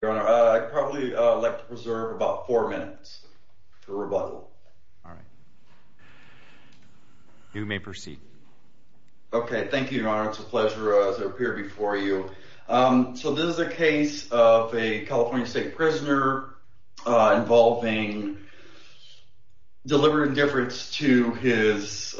Your Honor, I'd probably like to preserve about four minutes for rebuttal. All right. You may proceed. Okay. Thank you, Your Honor. It's a pleasure to appear before you. So this is a case of a California state prisoner involving deliberate indifference to his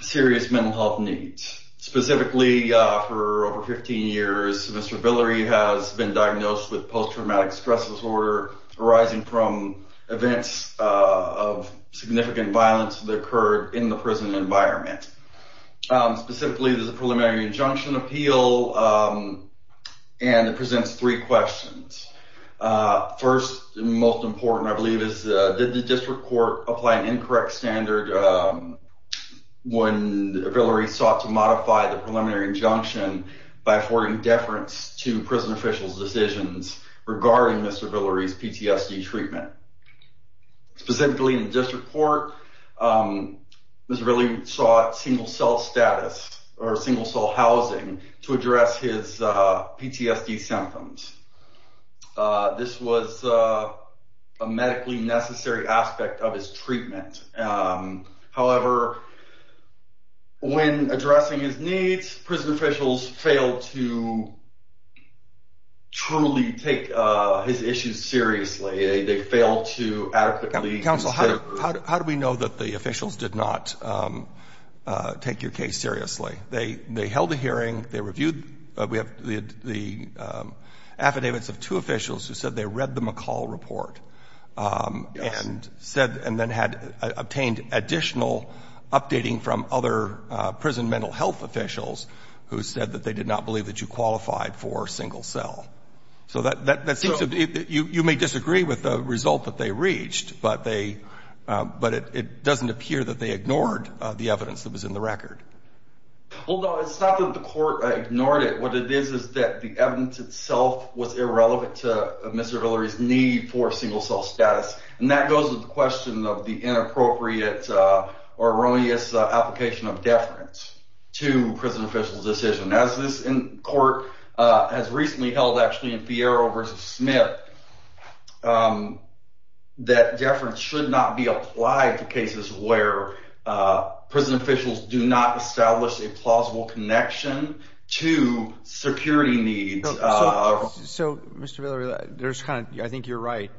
serious mental health needs. Specifically, for over 15 years, Mr. Villery has been diagnosed with post-traumatic stress disorder arising from events of significant violence that occurred in the prison environment. Specifically, there's a preliminary injunction appeal, and it presents three questions. First and most important, I believe, is did the district court apply an incorrect standard when Villery sought to modify the preliminary injunction by affording deference to prison officials' decisions regarding Mr. Villery's PTSD treatment? Specifically, in the district court, Mr. Villery sought single-cell status or single-cell housing to address his PTSD symptoms. This was a medically necessary aspect of his treatment. However, when addressing his needs, prison officials failed to truly take his issues seriously. They failed to adequately consider… Counsel, how do we know that the officials did not take your case seriously? They held a hearing. They reviewed the affidavits of two officials who said they read the McCall report and said… Yes. …and then had obtained additional updating from other prison mental health officials who said that they did not believe that you qualified for single-cell. So that seems to be… So… Well, no, it's not that the court ignored it. What it is is that the evidence itself was irrelevant to Mr. Villery's need for single-cell status, and that goes with the question of the inappropriate or erroneous application of deference to prison officials' decisions. As this court has recently held, actually, in Fierro v. Smith, that deference should not be applied to cases where prison officials do not establish a plausible connection to security needs. So, Mr. Villery, there's kind of – I think you're right.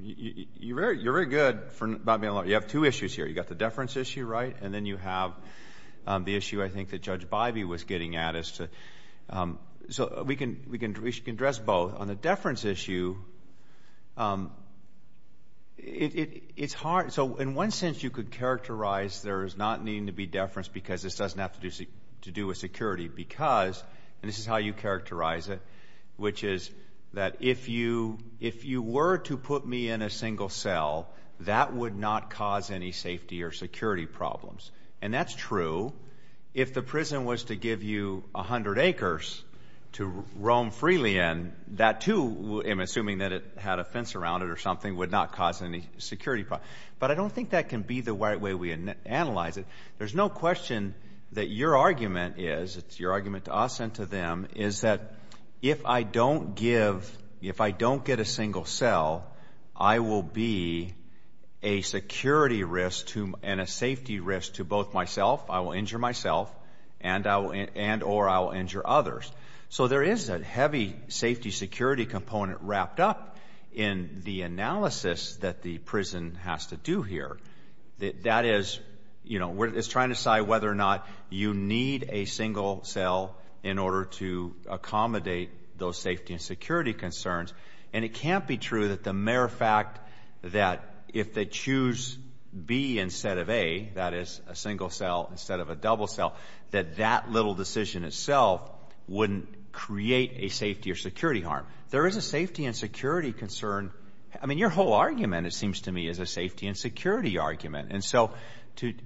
You're very good about being alone. You have two issues here. You've got the deference issue, right? And then you have the issue, I think, that Judge Bivey was getting at as to – so we can address both. On the deference issue, it's hard – so in one sense, you could characterize there is not needing to be deference because this doesn't have to do with security because – and this is how you characterize it – which is that if you were to put me in a single cell, that would not cause any safety or security problems. And that's true. If the prison was to give you 100 acres to roam freely in, that too – I'm assuming that it had a fence around it or something – would not cause any security problems. But I don't think that can be the right way we analyze it. There's no question that your argument is – it's your argument to us and to them – is that if I don't give – if I don't get a single cell, I will be a security risk and a safety risk to both myself – I will injure myself – and or I will injure others. So there is a heavy safety-security component wrapped up in the analysis that the prison has to do here. That is – it's trying to decide whether or not you need a single cell in order to accommodate those safety and security concerns. And it can't be true that the mere fact that if they choose B instead of A – that is, a single cell instead of a double cell – that that little decision itself wouldn't create a safety or security harm. There is a safety and security concern. I mean your whole argument, it seems to me, is a safety and security argument. And so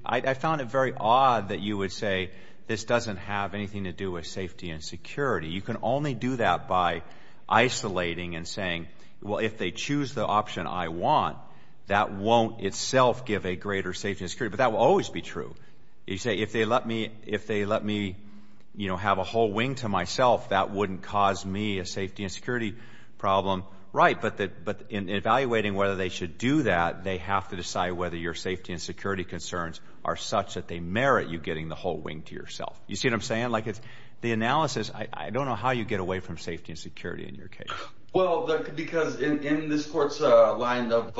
I found it very odd that you would say this doesn't have anything to do with safety and security. You can only do that by isolating and saying, well, if they choose the option I want, that won't itself give a greater safety and security. But that will always be true. You say if they let me have a whole wing to myself, that wouldn't cause me a safety and security problem. Right, but in evaluating whether they should do that, they have to decide whether your safety and security concerns are such that they merit you getting the whole wing to yourself. You see what I'm saying? The analysis – I don't know how you get away from safety and security in your case. Well, because in this court's line of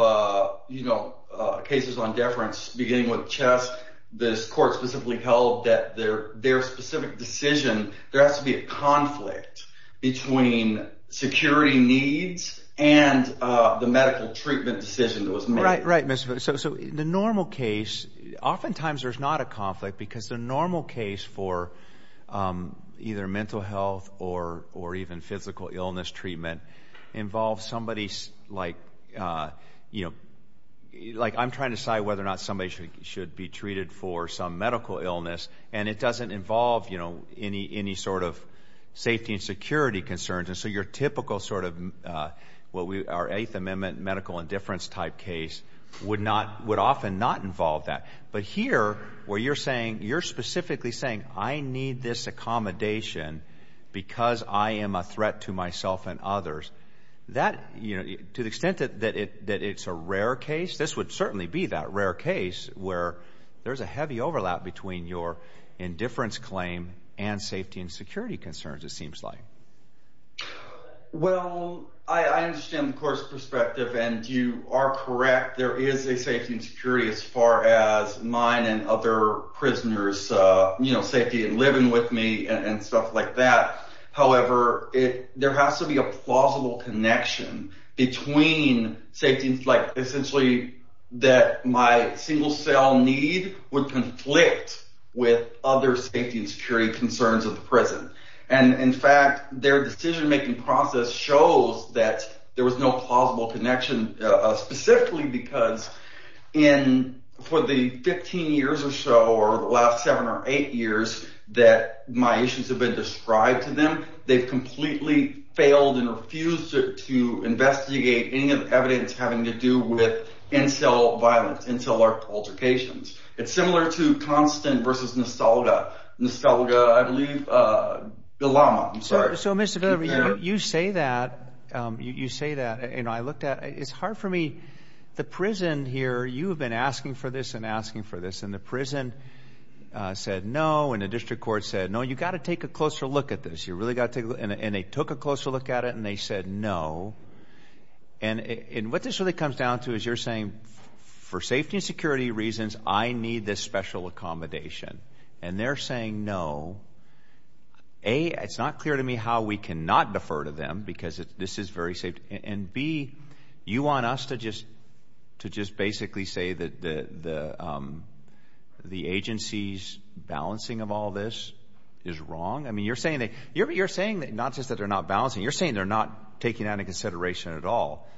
cases on deference, beginning with CHESS, this court specifically held that their specific decision – there has to be a conflict between security needs and the medical treatment decision that was made. So the normal case – oftentimes there's not a conflict because the normal case for either mental health or even physical illness treatment involves somebody – like I'm trying to decide whether or not somebody should be treated for some medical illness. And it doesn't involve any sort of safety and security concerns. And so your typical sort of – our Eighth Amendment medical indifference type case would often not involve that. But here, where you're saying – you're specifically saying I need this accommodation because I am a threat to myself and others. That – to the extent that it's a rare case, this would certainly be that rare case where there's a heavy overlap between your indifference claim and safety and security concerns it seems like. Well, I understand the court's perspective, and you are correct. There is a safety and security as far as mine and other prisoners' safety and living with me and stuff like that. However, there has to be a plausible connection between safety and – like essentially that my single-cell need would conflict with other safety and security concerns of the prison. And, in fact, their decision-making process shows that there was no plausible connection specifically because in – for the 15 years or so or the last seven or eight years that my issues have been described to them, they've completely failed and refused to investigate any evidence having to do with in-cell violence, in-cell altercations. It's similar to Konstant versus Nostalga. Nostalga, I believe – Bilama, I'm sorry. So, Mr. Bilama, you say that. You say that, and I looked at – it's hard for me. The prison here – you have been asking for this and asking for this, and the prison said no, and the district court said no. You've got to take a closer look at this. You really got to take a – and they took a closer look at it, and they said no. And what this really comes down to is you're saying for safety and security reasons I need this special accommodation, and they're saying no. A, it's not clear to me how we cannot defer to them because this is very – and, B, you want us to just basically say that the agency's balancing of all this is wrong? I mean you're saying they – you're saying not just that they're not balancing. You're saying they're not taking that into consideration at all.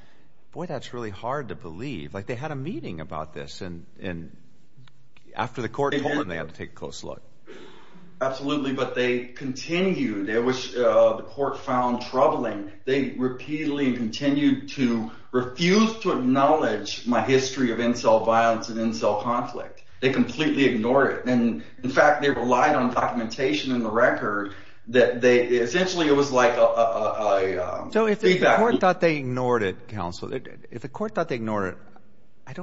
Boy, that's really hard to believe. Like they had a meeting about this, and after the court told them, they had to take a close look. Absolutely, but they continued. The court found troubling. They repeatedly continued to refuse to acknowledge my history of in-cell violence and in-cell conflict. They completely ignored it. And, in fact, they relied on documentation in the record that they – essentially it was like a feedback loop. So if the court thought they ignored it, counsel, if the court thought they ignored it,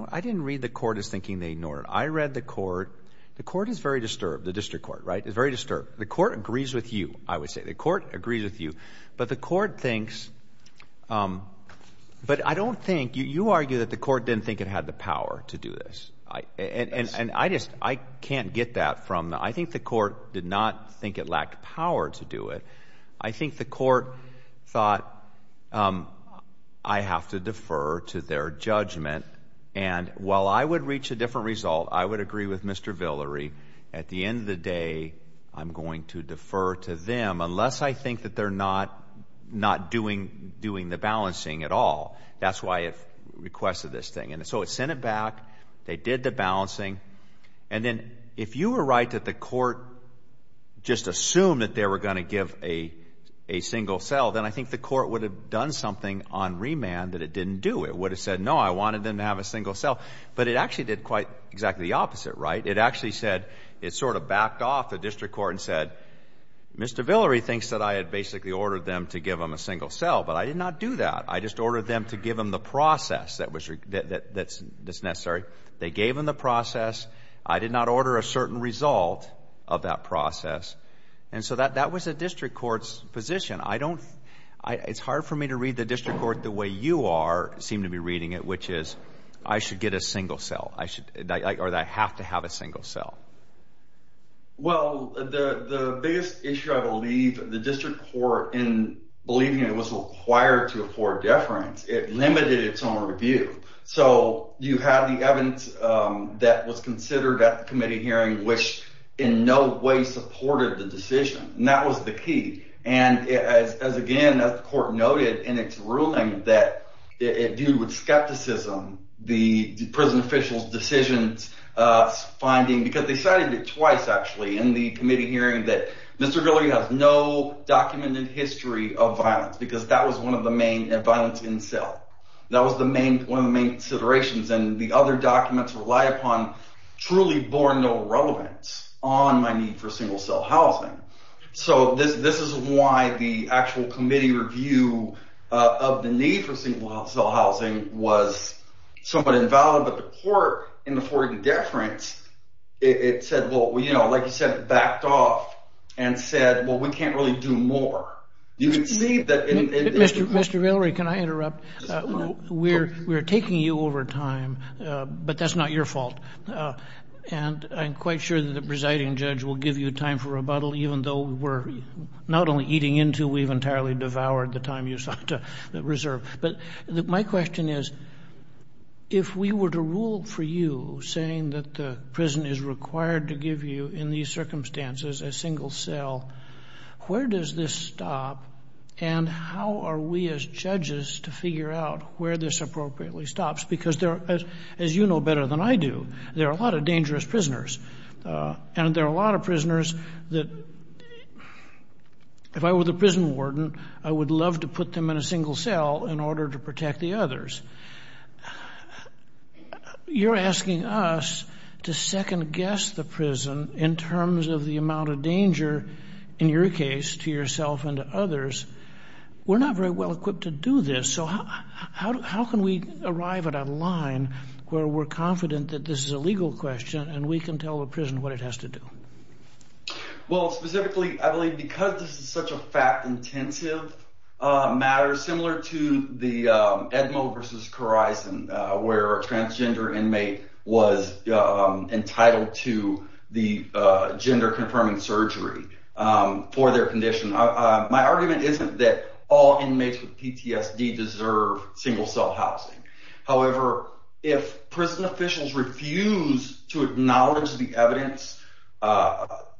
I didn't read the court as thinking they ignored it. I read the court. The court is very disturbed, the district court, right? It's very disturbed. The court agrees with you, I would say. The court agrees with you. But the court thinks – but I don't think – you argue that the court didn't think it had the power to do this. And I just – I can't get that from – I think the court did not think it lacked power to do it. I think the court thought I have to defer to their judgment. And while I would reach a different result, I would agree with Mr. Villeri. At the end of the day, I'm going to defer to them unless I think that they're not doing the balancing at all. That's why it requested this thing. And so it sent it back. They did the balancing. And then if you were right that the court just assumed that they were going to give a single cell, then I think the court would have done something on remand that it didn't do. It would have said, no, I wanted them to have a single cell. But it actually did quite exactly the opposite, right? It actually said – it sort of backed off the district court and said, Mr. Villeri thinks that I had basically ordered them to give him a single cell, but I did not do that. I just ordered them to give him the process that's necessary. They gave him the process. I did not order a certain result of that process. And so that was the district court's position. It's hard for me to read the district court the way you seem to be reading it, which is I should get a single cell or that I have to have a single cell. Well, the biggest issue, I believe, the district court in believing it was required to afford deference, it limited its own review. So you have the evidence that was considered at the committee hearing, which in no way supported the decision. And that was the key. And again, as the court noted in its ruling that it viewed with skepticism the prison official's decisions, because they cited it twice actually in the committee hearing that Mr. Villeri has no documented history of violence because that was one of the main – violence in cell. That was one of the main considerations, and the other documents relied upon truly bore no relevance on my need for single cell housing. So this is why the actual committee review of the need for single cell housing was somewhat invalid, but the court in affording deference, it said, well, you know, like you said, it backed off and said, well, we can't really do more. You can see that in – Mr. Villeri, can I interrupt? We're taking you over time, but that's not your fault. And I'm quite sure that the presiding judge will give you time for rebuttal, even though we're not only eating into, we've entirely devoured the time you sought to reserve. But my question is, if we were to rule for you, saying that the prison is required to give you in these circumstances a single cell, where does this stop and how are we as judges to figure out where this appropriately stops? Because as you know better than I do, there are a lot of dangerous prisoners, and there are a lot of prisoners that if I were the prison warden, I would love to put them in a single cell in order to protect the others. You're asking us to second-guess the prison in terms of the amount of danger, in your case, to yourself and to others. We're not very well equipped to do this, so how can we arrive at a line where we're confident that this is a legal question and we can tell the prison what it has to do? Well, specifically, I believe because this is such a fact-intensive matter, similar to the Edmo v. Corison, where a transgender inmate was entitled to the gender-confirming surgery for their condition, my argument isn't that all inmates with PTSD deserve single-cell housing. However, if prison officials refuse to acknowledge the evidence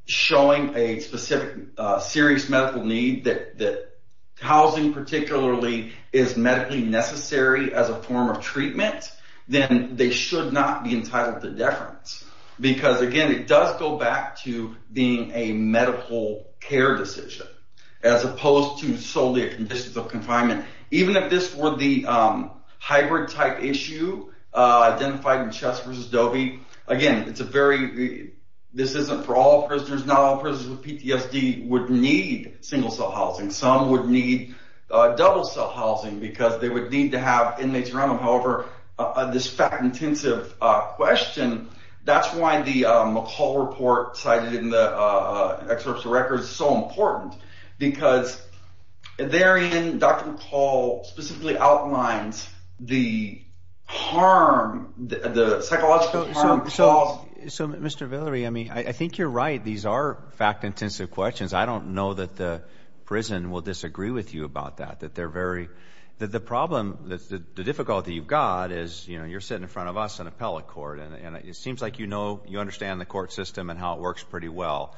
showing a specific serious medical need that housing particularly is medically necessary as a form of treatment, then they should not be entitled to deference. Because, again, it does go back to being a medical care decision, as opposed to solely a condition of confinement. Even if this were the hybrid-type issue identified in Chess v. Dovey, again, this isn't for all prisoners. Not all prisoners with PTSD would need single-cell housing. Some would need double-cell housing because they would need to have inmates around them. However, this fact-intensive question, that's why the McCall report cited in the excerpts of records is so important. Because therein, Dr. McCall specifically outlines the psychological harm caused. So, Mr. Villeri, I think you're right. These are fact-intensive questions. I don't know that the prison will disagree with you about that. The difficulty you've got is you're sitting in front of us in appellate court, and it seems like you understand the court system and how it works pretty well.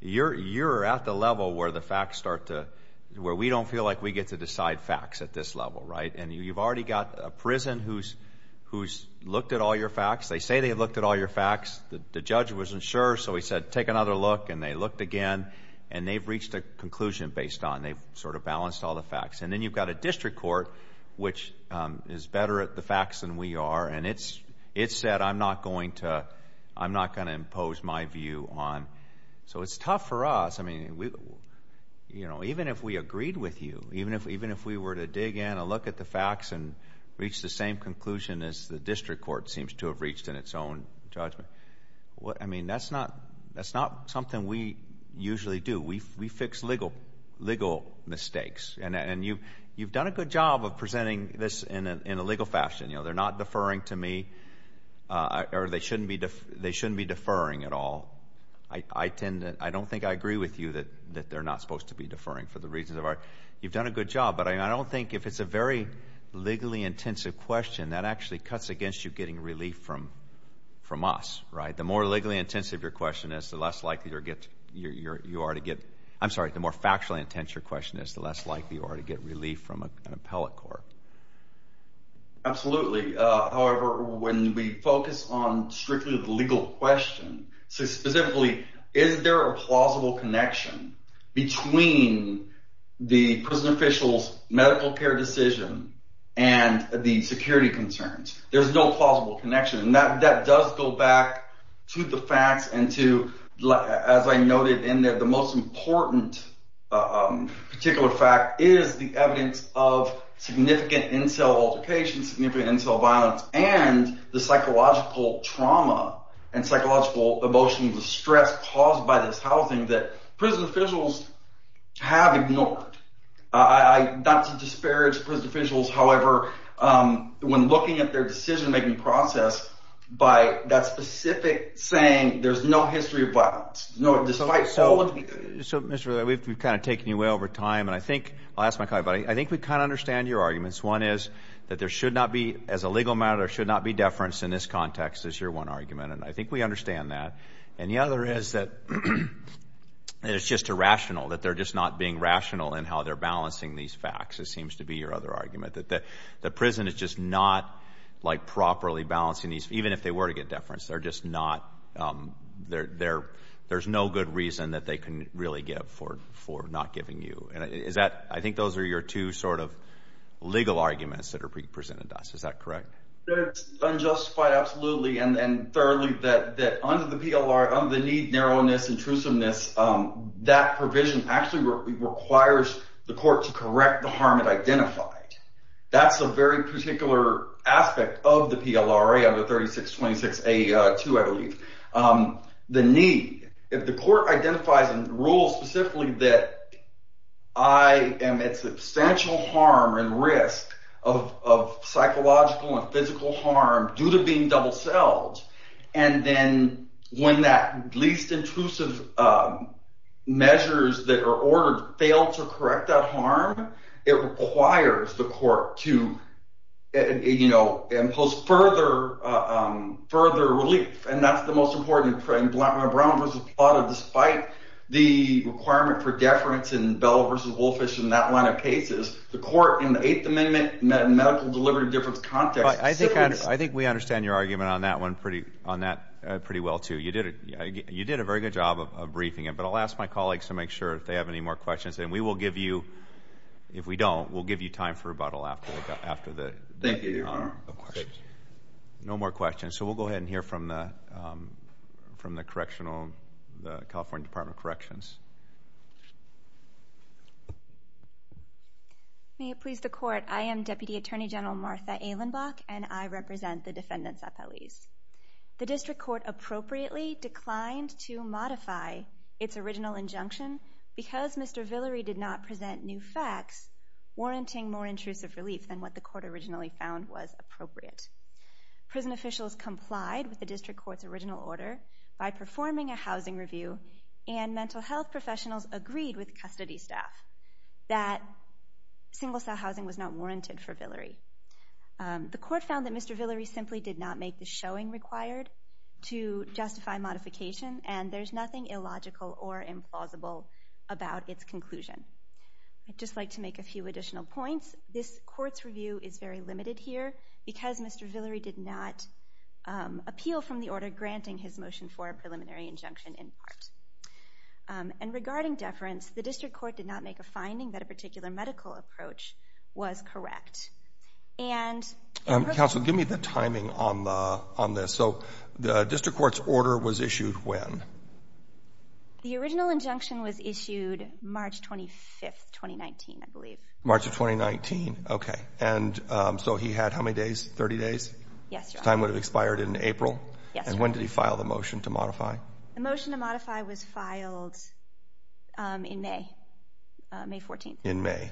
You're at the level where we don't feel like we get to decide facts at this level, right? And you've already got a prison who's looked at all your facts. They say they've looked at all your facts. The judge wasn't sure, so he said, take another look. And they looked again, and they've reached a conclusion based on it. They've sort of balanced all the facts. And then you've got a district court, which is better at the facts than we are. And it's said I'm not going to impose my view on. So it's tough for us. I mean, even if we agreed with you, even if we were to dig in and look at the facts and reach the same conclusion as the district court seems to have reached in its own judgment, I mean, that's not something we usually do. We fix legal mistakes. And you've done a good job of presenting this in a legal fashion. You know, they're not deferring to me, or they shouldn't be deferring at all. I don't think I agree with you that they're not supposed to be deferring for the reasons of our – you've done a good job, but I don't think if it's a very legally intensive question, that actually cuts against you getting relief from us, right? The more legally intensive your question is, the less likely you are to get – I'm sorry, the more factually intense your question is, the less likely you are to get relief from an appellate court. Absolutely. However, when we focus on strictly the legal question, specifically is there a plausible connection between the prison official's medical care decision and the security concerns, there's no plausible connection. And that does go back to the facts and to, as I noted in there, the most important particular fact is the evidence of significant in-cell altercation, significant in-cell violence, and the psychological trauma and psychological emotional distress caused by this housing that prison officials have ignored. Not to disparage prison officials, however, when looking at their decision-making process, by that specific saying, there's no history of violence. No, despite – So, Mr. – we've kind of taken you away over time, and I think – I'll ask my colleague, but I think we kind of understand your arguments. One is that there should not be, as a legal matter, there should not be deference in this context, is your one argument, and I think we understand that. And the other is that it's just irrational, that they're just not being rational in how they're balancing these facts, it seems to be your other argument, that the prison is just not, like, properly balancing these, even if they were to get deference, they're just not – there's no good reason that they can really give for not giving you. And is that – I think those are your two sort of legal arguments that are presented to us. Is that correct? It's unjustified, absolutely, and thoroughly, that under the PLRA, under the need, narrowness, and truesomeness, that provision actually requires the court to correct the harm it identified. That's a very particular aspect of the PLRA, under 3626A2, I believe. The need – if the court identifies and rules specifically that I am at substantial harm and risk of psychological and physical harm due to being double-celled, and then when that least intrusive measures that are ordered fail to correct that harm, it requires the court to, you know, impose further relief. And that's the most important thing. Brown v. Plata, despite the requirement for deference in Bell v. Wolffish and that line of cases, the court in the Eighth Amendment medical delivery difference context – I think we understand your argument on that one pretty well, too. You did a very good job of briefing it. But I'll ask my colleagues to make sure if they have any more questions. And we will give you – if we don't, we'll give you time for rebuttal after the questions. Thank you, Your Honor. No more questions. So we'll go ahead and hear from the California Department of Corrections. May it please the Court. I am Deputy Attorney General Martha Ehlenbach, and I represent the defendants' appellees. The district court appropriately declined to modify its original injunction because Mr. Villory did not present new facts warranting more intrusive relief than what the court originally found was appropriate. Prison officials complied with the district court's original order by performing a housing review, and mental health professionals agreed with custody staff that single-cell housing was not warranted for Villory. The court found that Mr. Villory simply did not make the showing required to justify modification, and there's nothing illogical or implausible about its conclusion. I'd just like to make a few additional points. This court's review is very limited here because Mr. Villory did not appeal from the order granting his motion for a preliminary injunction in part. And regarding deference, the district court did not make a finding that a particular medical approach was correct. Counsel, give me the timing on this. So the district court's order was issued when? The original injunction was issued March 25th, 2019, I believe. March of 2019? Okay. And so he had how many days? 30 days? Yes, Your Honor. His time would have expired in April? Yes, Your Honor. And when did he file the motion to modify? The motion to modify was filed in May, May 14th. In May.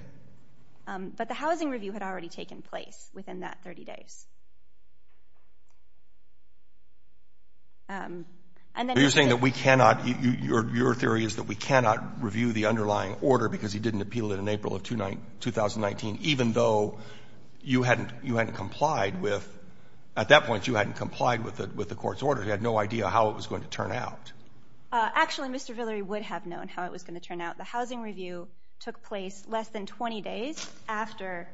But the housing review had already taken place within that 30 days. You're saying that we cannot, your theory is that we cannot review the underlying order because he didn't appeal it in April of 2019, even though you hadn't complied with, at that point you hadn't complied with the court's order. You had no idea how it was going to turn out. Actually, Mr. Villory would have known how it was going to turn out. The housing review took place less than 20 days after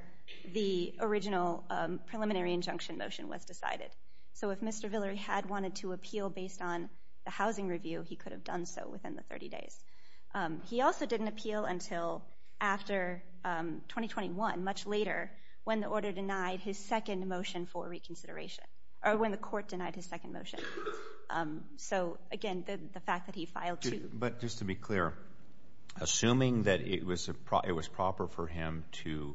the original preliminary injunction motion was decided. So if Mr. Villory had wanted to appeal based on the housing review, he could have done so within the 30 days. He also didn't appeal until after 2021, much later, when the order denied his second motion for reconsideration, or when the court denied his second motion. So, again, the fact that he filed two. But just to be clear, assuming that it was proper for him to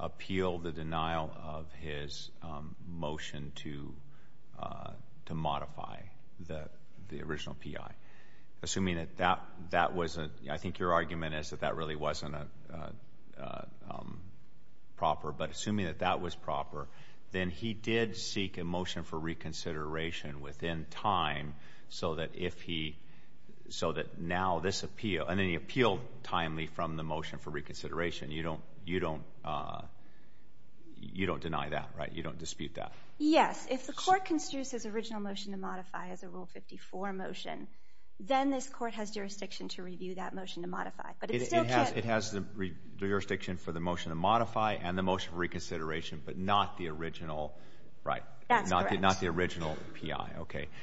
appeal the denial of his motion to modify the original PI, assuming that that was a, I think your argument is that that really wasn't proper, but assuming that that was proper, then he did seek a motion for reconsideration within time so that now this appeal, and then he appealed timely from the motion for reconsideration. You don't deny that, right? You don't dispute that? Yes. If the court considers his original motion to modify as a Rule 54 motion, then this court has jurisdiction to review that motion to modify. But it still can't. It has the jurisdiction for the motion to modify and the motion for reconsideration, but not the original PI.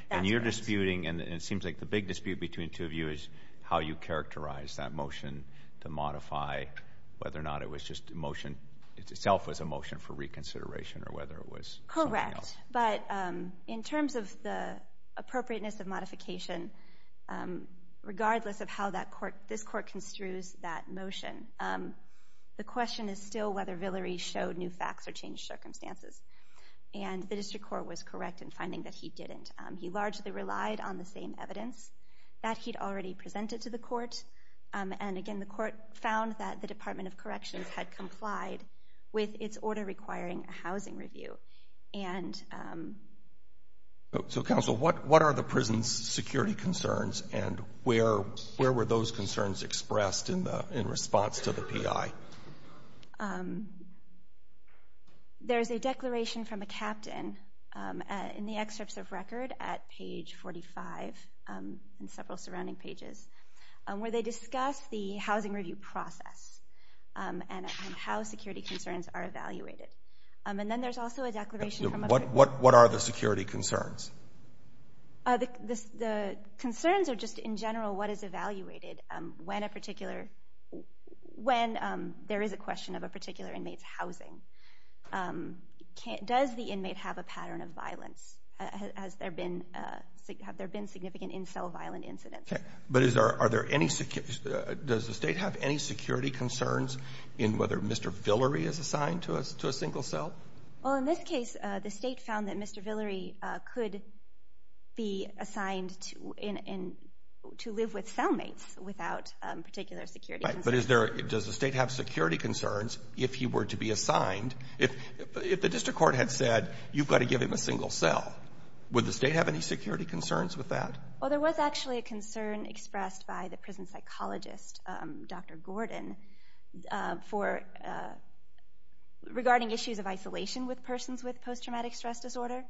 And you're disputing, and it seems like the big dispute between the two of you is how you characterize that motion to modify, whether or not it was just a motion, it itself was a motion for reconsideration or whether it was something else. Correct. But in terms of the appropriateness of modification, regardless of how this court construes that motion, the question is still whether Villery showed new facts or changed circumstances. And the district court was correct in finding that he didn't. He largely relied on the same evidence that he'd already presented to the court. And, again, the court found that the Department of Corrections had complied with its order requiring a housing review. So, counsel, what are the prison's security concerns and where were those concerns expressed in response to the PI? There's a declaration from a captain in the excerpts of record at page 45 and several surrounding pages where they discuss the housing review process and how security concerns are evaluated. And then there's also a declaration from a prisoner. What are the security concerns? The concerns are just in general what is evaluated when there is a question of a particular inmate's housing. Does the inmate have a pattern of violence? Have there been significant in-cell violent incidents? But does the state have any security concerns in whether Mr. Villery is assigned to a single cell? Well, in this case, the state found that Mr. Villery could be assigned to live with cellmates without particular security concerns. Right, but does the state have security concerns if he were to be assigned? If the district court had said, you've got to give him a single cell, would the state have any security concerns with that? Well, there was actually a concern expressed by the prison psychologist, Dr. Gordon, regarding issues of isolation with persons with post-traumatic stress disorder,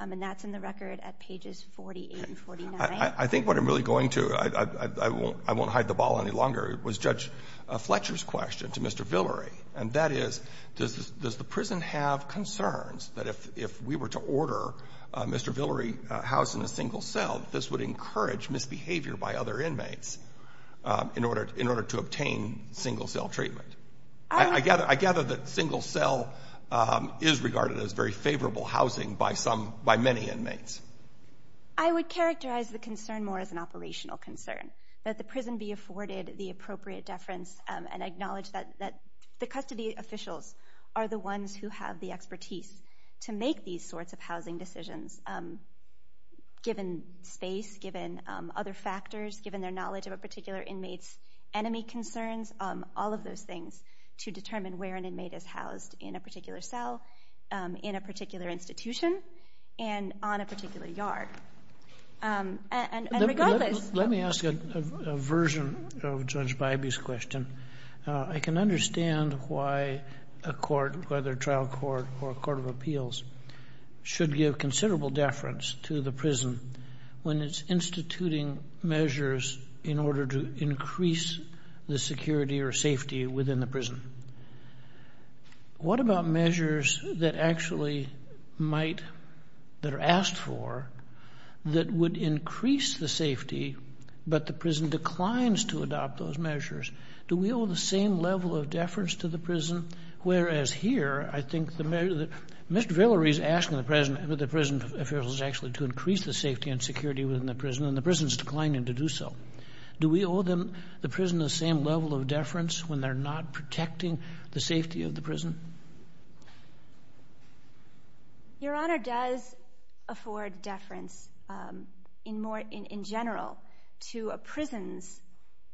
and that's in the record at pages 48 and 49. I think what I'm really going to, I won't hide the ball any longer, was Judge Fletcher's question to Mr. Villery, and that is, does the prison have concerns that if we were to order Mr. Villery housed in a single cell, this would encourage misbehavior by other inmates in order to obtain single cell treatment? I gather that single cell is regarded as very favorable housing by many inmates. I would characterize the concern more as an operational concern, that the prison be afforded the appropriate deference and acknowledge that the custody officials are the ones who have the expertise to make these sorts of housing decisions given space, given other factors, given their knowledge of a particular inmate's enemy concerns, all of those things to determine where an inmate is housed in a particular cell, in a particular institution, and on a particular yard. And regardless... Let me ask a version of Judge Bybee's question. I can understand why a court, whether trial court or a court of appeals, should give considerable deference to the prison when it's instituting measures in order to increase the security or safety within the prison. What about measures that actually might, that are asked for, that would increase the safety but the prison declines to adopt those measures? Do we owe the same level of deference to the prison? Whereas here, I think the measure that Mr. Villery is asking the prison officials is actually to increase the safety and security within the prison, and the prison's declining to do so. Do we owe the prison the same level of deference when they're not protecting the safety of the prison? Your Honor, does afford deference in general to a prison's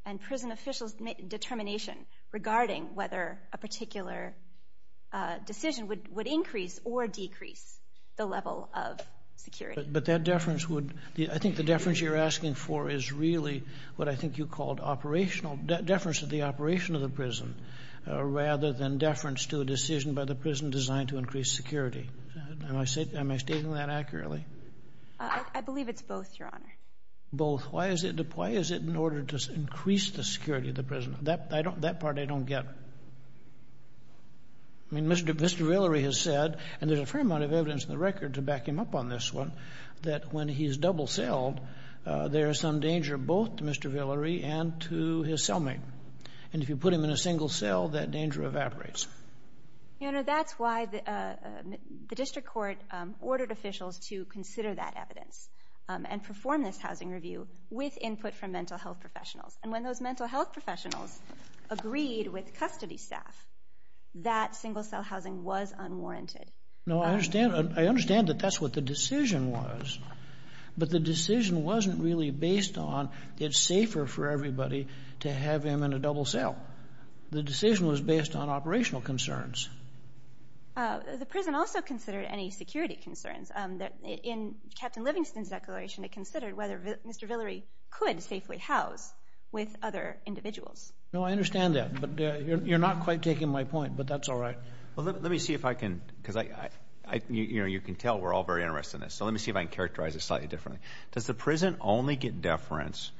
and prison officials' determination regarding whether a particular decision would increase or decrease the level of security? But that deference would... I think the deference you're asking for is really what I think you called operational, deference to the operation of the prison, rather than deference to a decision by the prison designed to increase security. Am I stating that accurately? I believe it's both, Your Honor. Both. Why is it in order to increase the security of the prison? That part I don't get. I mean, Mr. Villery has said, and there's a fair amount of evidence in the record to back him up on this one, that when he's double-celled, there is some danger both to Mr. Villery and to his cellmate. And if you put him in a single cell, that danger evaporates. Your Honor, that's why the district court ordered officials to consider that evidence and perform this housing review with input from mental health professionals. And when those mental health professionals agreed with custody staff, that single-cell housing was unwarranted. No, I understand. I understand that that's what the decision was. But the decision wasn't really based on it's safer for everybody to have him in a double cell. The decision was based on operational concerns. The prison also considered any security concerns. In Captain Livingston's declaration, it considered whether Mr. Villery could safely house with other individuals. No, I understand that. But you're not quite taking my point, but that's all right. Well, let me see if I can, because you can tell we're all very interested in this. So let me see if I can characterize this slightly differently. Does the prison only get deference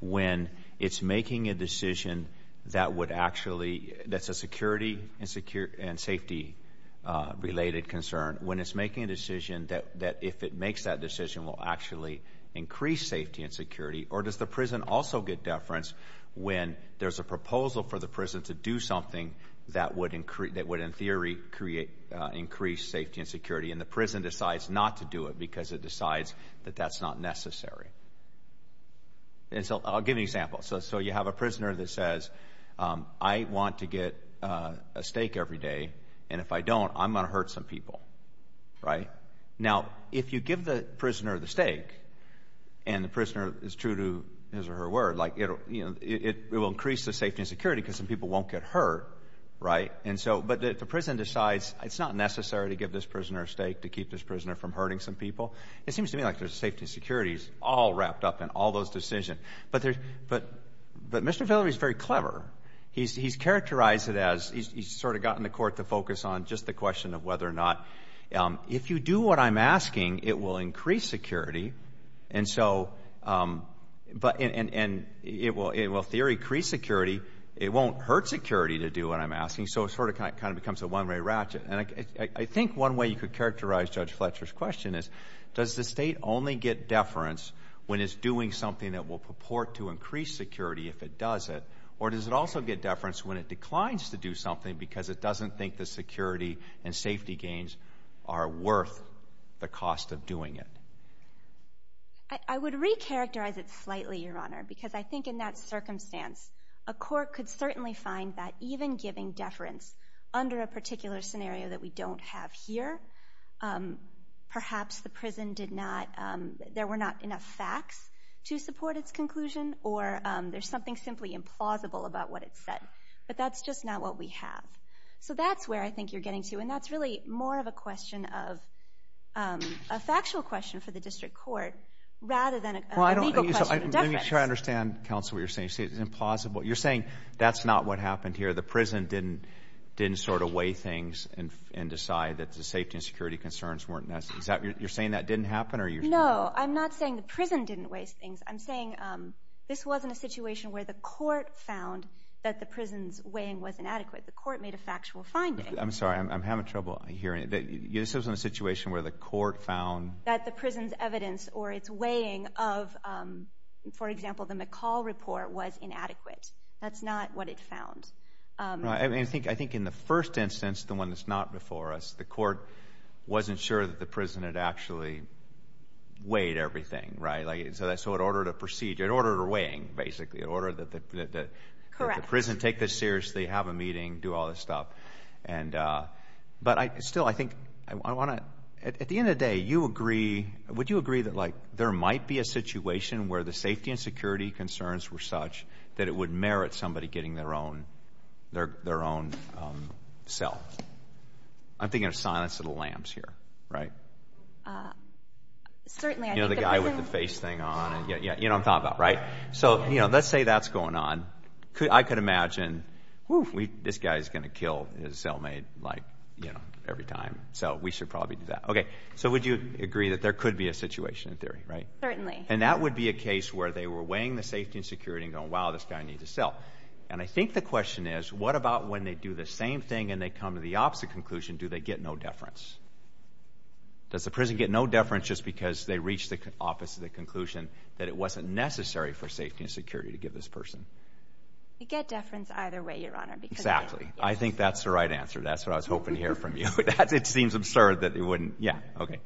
when it's making a decision that would actually, that's a security and safety-related concern, when it's making a decision that, if it makes that decision, will actually increase safety and security? Or does the prison also get deference when there's a proposal for the prison to do something that would, in theory, increase safety and security, and the prison decides not to do it because it decides that that's not necessary? I'll give you an example. So you have a prisoner that says, I want to get a stake every day, and if I don't, I'm going to hurt some people, right? Now, if you give the prisoner the stake, and the prisoner is true to his or her word, like it will increase the safety and security because some people won't get hurt, right? But the prison decides it's not necessary to give this prisoner a stake to keep this prisoner from hurting some people. It seems to me like there's safety and security all wrapped up in all those decisions. But Mr. Villery is very clever. He's characterized it as, he's sort of gotten the court to focus on just the question of whether or not, if you do what I'm asking, it will increase security, and so it will, in theory, increase security. It won't hurt security to do what I'm asking, so it sort of kind of becomes a one-way ratchet. And I think one way you could characterize Judge Fletcher's question is, does the State only get deference when it's doing something that will purport to increase security if it does it, or does it also get deference when it declines to do something because it doesn't think the security and safety gains are worth the cost of doing it? I would recharacterize it slightly, Your Honor, because I think in that circumstance, a court could certainly find that even giving deference under a particular scenario that we don't have here, perhaps the prison did not, there were not enough facts to support its conclusion, or there's something simply implausible about what it said. But that's just not what we have. So that's where I think you're getting to, and that's really more of a question of a factual question for the district court rather than a legal question of deference. Let me try to understand, counsel, what you're saying. You say it's implausible. You're saying that's not what happened here. The prison didn't sort of weigh things and decide that the safety and security concerns weren't necessary. You're saying that didn't happen? No, I'm not saying the prison didn't weigh things. I'm saying this wasn't a situation where the court found that the prison's weighing was inadequate. The court made a factual finding. I'm sorry. I'm having trouble hearing. This wasn't a situation where the court found? That the prison's evidence or its weighing of, for example, the McCall report was inadequate. That's not what it found. I think in the first instance, the one that's not before us, the court wasn't sure that the prison had actually weighed everything. So in order to proceed, in order to weigh basically, in order that the prison take this seriously, have a meeting, do all this stuff. But still, I think I want to, at the end of the day, you agree, would you agree that, like, there might be a situation where the safety and security concerns were such that it would merit somebody getting their own cell? I'm thinking of Silence of the Lambs here, right? Certainly. You know, the guy with the face thing on. You know what I'm talking about, right? So, you know, let's say that's going on. I could imagine, whew, this guy's going to kill his cellmate, like, you know, every time. So we should probably do that. Okay. So would you agree that there could be a situation in theory, right? Certainly. And that would be a case where they were weighing the safety and security and going, wow, this guy needs a cell. And I think the question is, what about when they do the same thing and they come to the opposite conclusion? Do they get no deference? Does the prison get no deference just because they reach the opposite conclusion that it wasn't necessary for safety and security to give this person? They get deference either way, Your Honor. Exactly. I think that's the right answer. That's what I was hoping to hear from you. It seems absurd that they wouldn't. Yeah. Okay.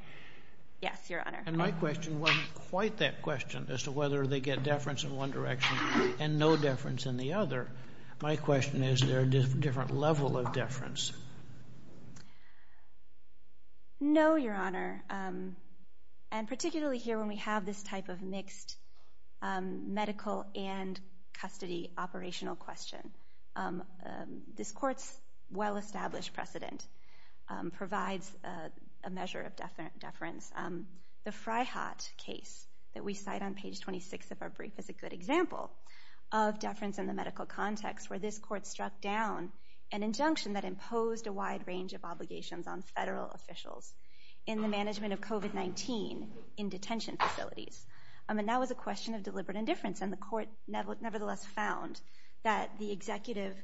Yes, Your Honor. And my question wasn't quite that question as to whether they get deference in one direction and no deference in the other. My question is, is there a different level of deference? No, Your Honor. And particularly here when we have this type of mixed medical and custody operational question. This Court's well-established precedent provides a measure of deference. The Fryhat case that we cite on page 26 of our brief is a good example of deference in the medical context where this Court struck down an injunction that imposed a wide range of obligations on federal officials in the management of COVID-19 in detention facilities. And that was a question of deliberate indifference. And the Court nevertheless found that the executive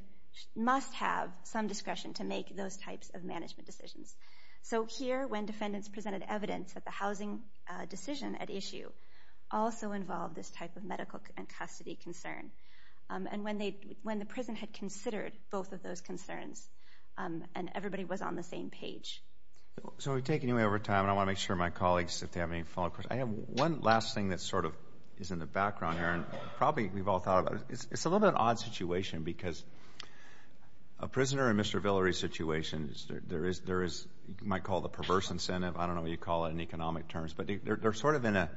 must have some discretion to make those types of management decisions. So here, when defendants presented evidence that the housing decision at issue also involved this type of medical and custody concern, and when the prison had considered both of those concerns and everybody was on the same page. So we've taken you over time, and I want to make sure my colleagues, if they have any follow-up questions. I have one last thing that sort of is in the background here, and probably we've all thought about it. It's a little bit of an odd situation because a prisoner in Mr. Villery's situation, there is what you might call the perverse incentive. I don't know what you'd call it in economic terms. But they're sort of in a,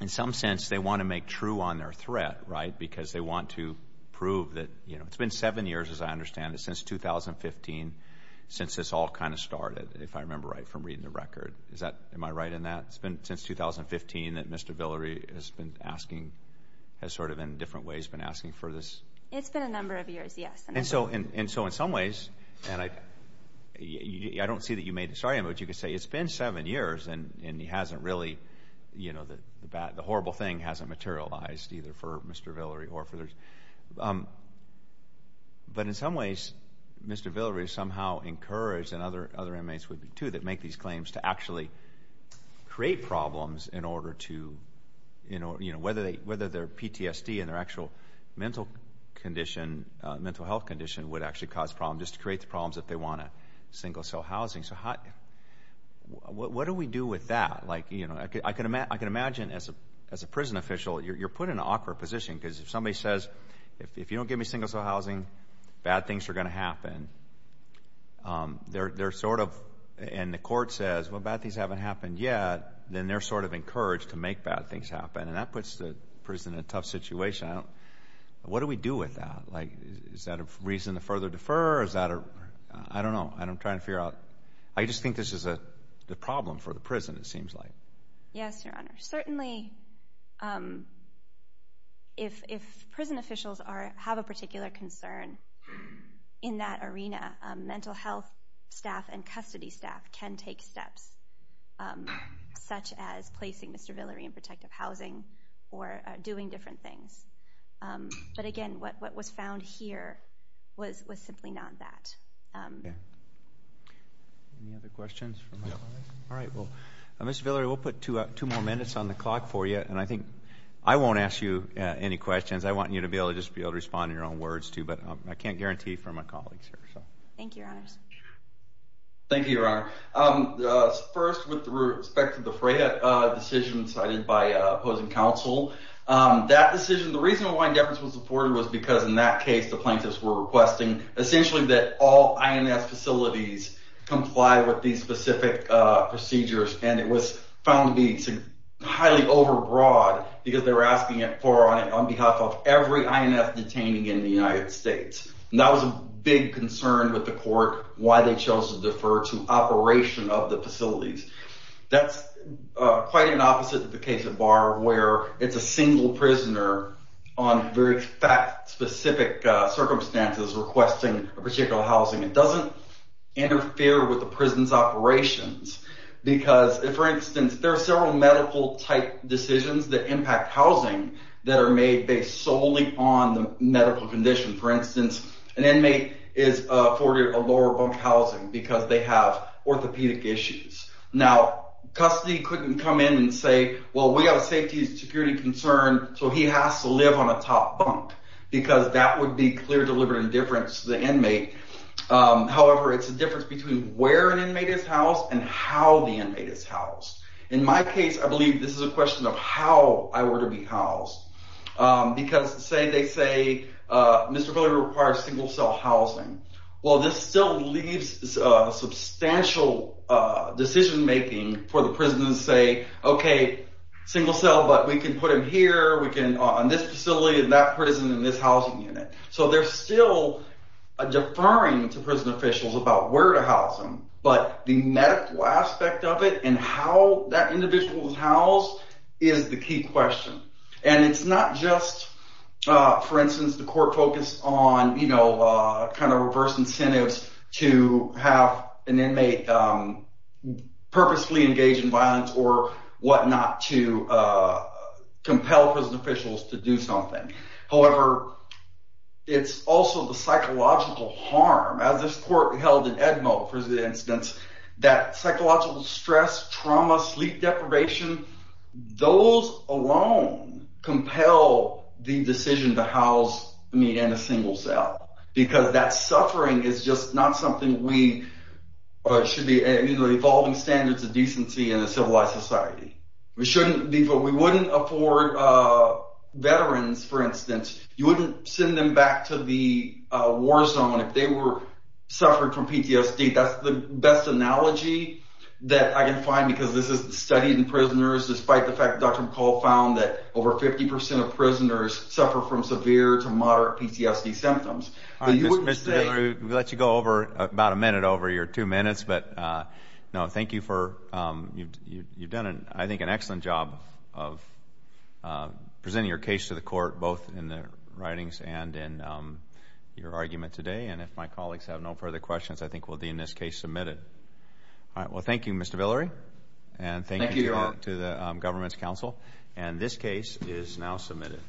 in some sense, they want to make true on their threat, right, because they want to prove that, you know, it's been seven years, as I understand it, since 2015, since this all kind of started, if I remember right from reading the record. Am I right in that? It's been since 2015 that Mr. Villery has been asking, has sort of in different ways been asking for this? It's been a number of years, yes. And so in some ways, and I don't see that you made this argument, but you could say it's been seven years and he hasn't really, you know, the horrible thing hasn't materialized either for Mr. Villery or for others. But in some ways, Mr. Villery is somehow encouraged, and other inmates would be too, that make these claims to actually create problems in order to, you know, whether their PTSD and their actual mental condition, mental health condition, would actually cause problems just to create the problems that they want in single-cell housing. So what do we do with that? Like, you know, I can imagine as a prison official, you're put in an awkward position because if somebody says, if you don't give me single-cell housing, bad things are going to happen, they're sort of, and the court says, well, bad things haven't happened yet, then they're sort of encouraged to make bad things happen. And that puts the prison in a tough situation. What do we do with that? Like, is that a reason to further defer, or is that a, I don't know. I'm trying to figure out. I just think this is the problem for the prison, it seems like. Yes, Your Honor. Certainly, if prison officials have a particular concern in that arena, mental health staff and custody staff can take steps, such as placing Mr. Villery in protective housing or doing different things. But again, what was found here was simply not that. Any other questions? All right. Well, Mr. Villery, we'll put two more minutes on the clock for you, and I think I won't ask you any questions. I want you to be able to just respond in your own words too, but I can't guarantee for my colleagues here. Thank you, Your Honors. Thank you, Your Honor. First, with respect to the Freyhut decision cited by opposing counsel, that decision, the reason why indifference was afforded was because, in that case, the plaintiffs were requesting, essentially, that all INS facilities comply with these specific procedures, and it was found to be highly overbroad because they were asking for it on behalf of every INS detainee in the United States. And that was a big concern with the court, why they chose to defer to operation of the facilities. That's quite an opposite of the case at Barr, where it's a single prisoner on very fact-specific circumstances requesting a particular housing. It doesn't interfere with the prison's operations because, for instance, there are several medical-type decisions that impact housing that are made based solely on the medical condition. For instance, an inmate is afforded a lower bunk housing because they have orthopedic issues. Now, custody couldn't come in and say, well, we have a safety and security concern, so he has to live on a top bunk, because that would be clear deliberate indifference to the inmate. However, it's a difference between where an inmate is housed and how the inmate is housed. In my case, I believe this is a question of how I were to be housed because, say, they say Mr. Billy requires single-cell housing. Well, this still leaves substantial decision-making for the prison to say, OK, single-cell, but we can put him here, on this facility, in that prison, in this housing unit. So they're still deferring to prison officials about where to house him, but the medical aspect of it and how that individual is housed is the key question. And it's not just, for instance, the court focused on reverse incentives to have an inmate purposely engage in violence or whatnot to compel prison officials to do something. However, it's also the psychological harm, as this court held in Edmo, for instance, that psychological stress, trauma, sleep deprivation, those alone compel the decision to house me in a single cell because that suffering is just not something we... It should be evolving standards of decency in a civilized society. We wouldn't afford veterans, for instance, you wouldn't send them back to the war zone if they were suffering from PTSD. That's the best analogy that I can find because this is studied in prisoners, despite the fact that Dr. McCall found that over 50% of prisoners suffer from severe to moderate PTSD symptoms. Mr. Villeri, we'll let you go about a minute over your 2 minutes, but thank you for... You've done, I think, an excellent job of presenting your case to the court, both in the writings and in your argument today. And if my colleagues have no further questions, I think we'll end this case submitted. All right, well, thank you, Mr. Villeri. Thank you, Your Honor. And thank you to the Government's Council. And this case is now submitted.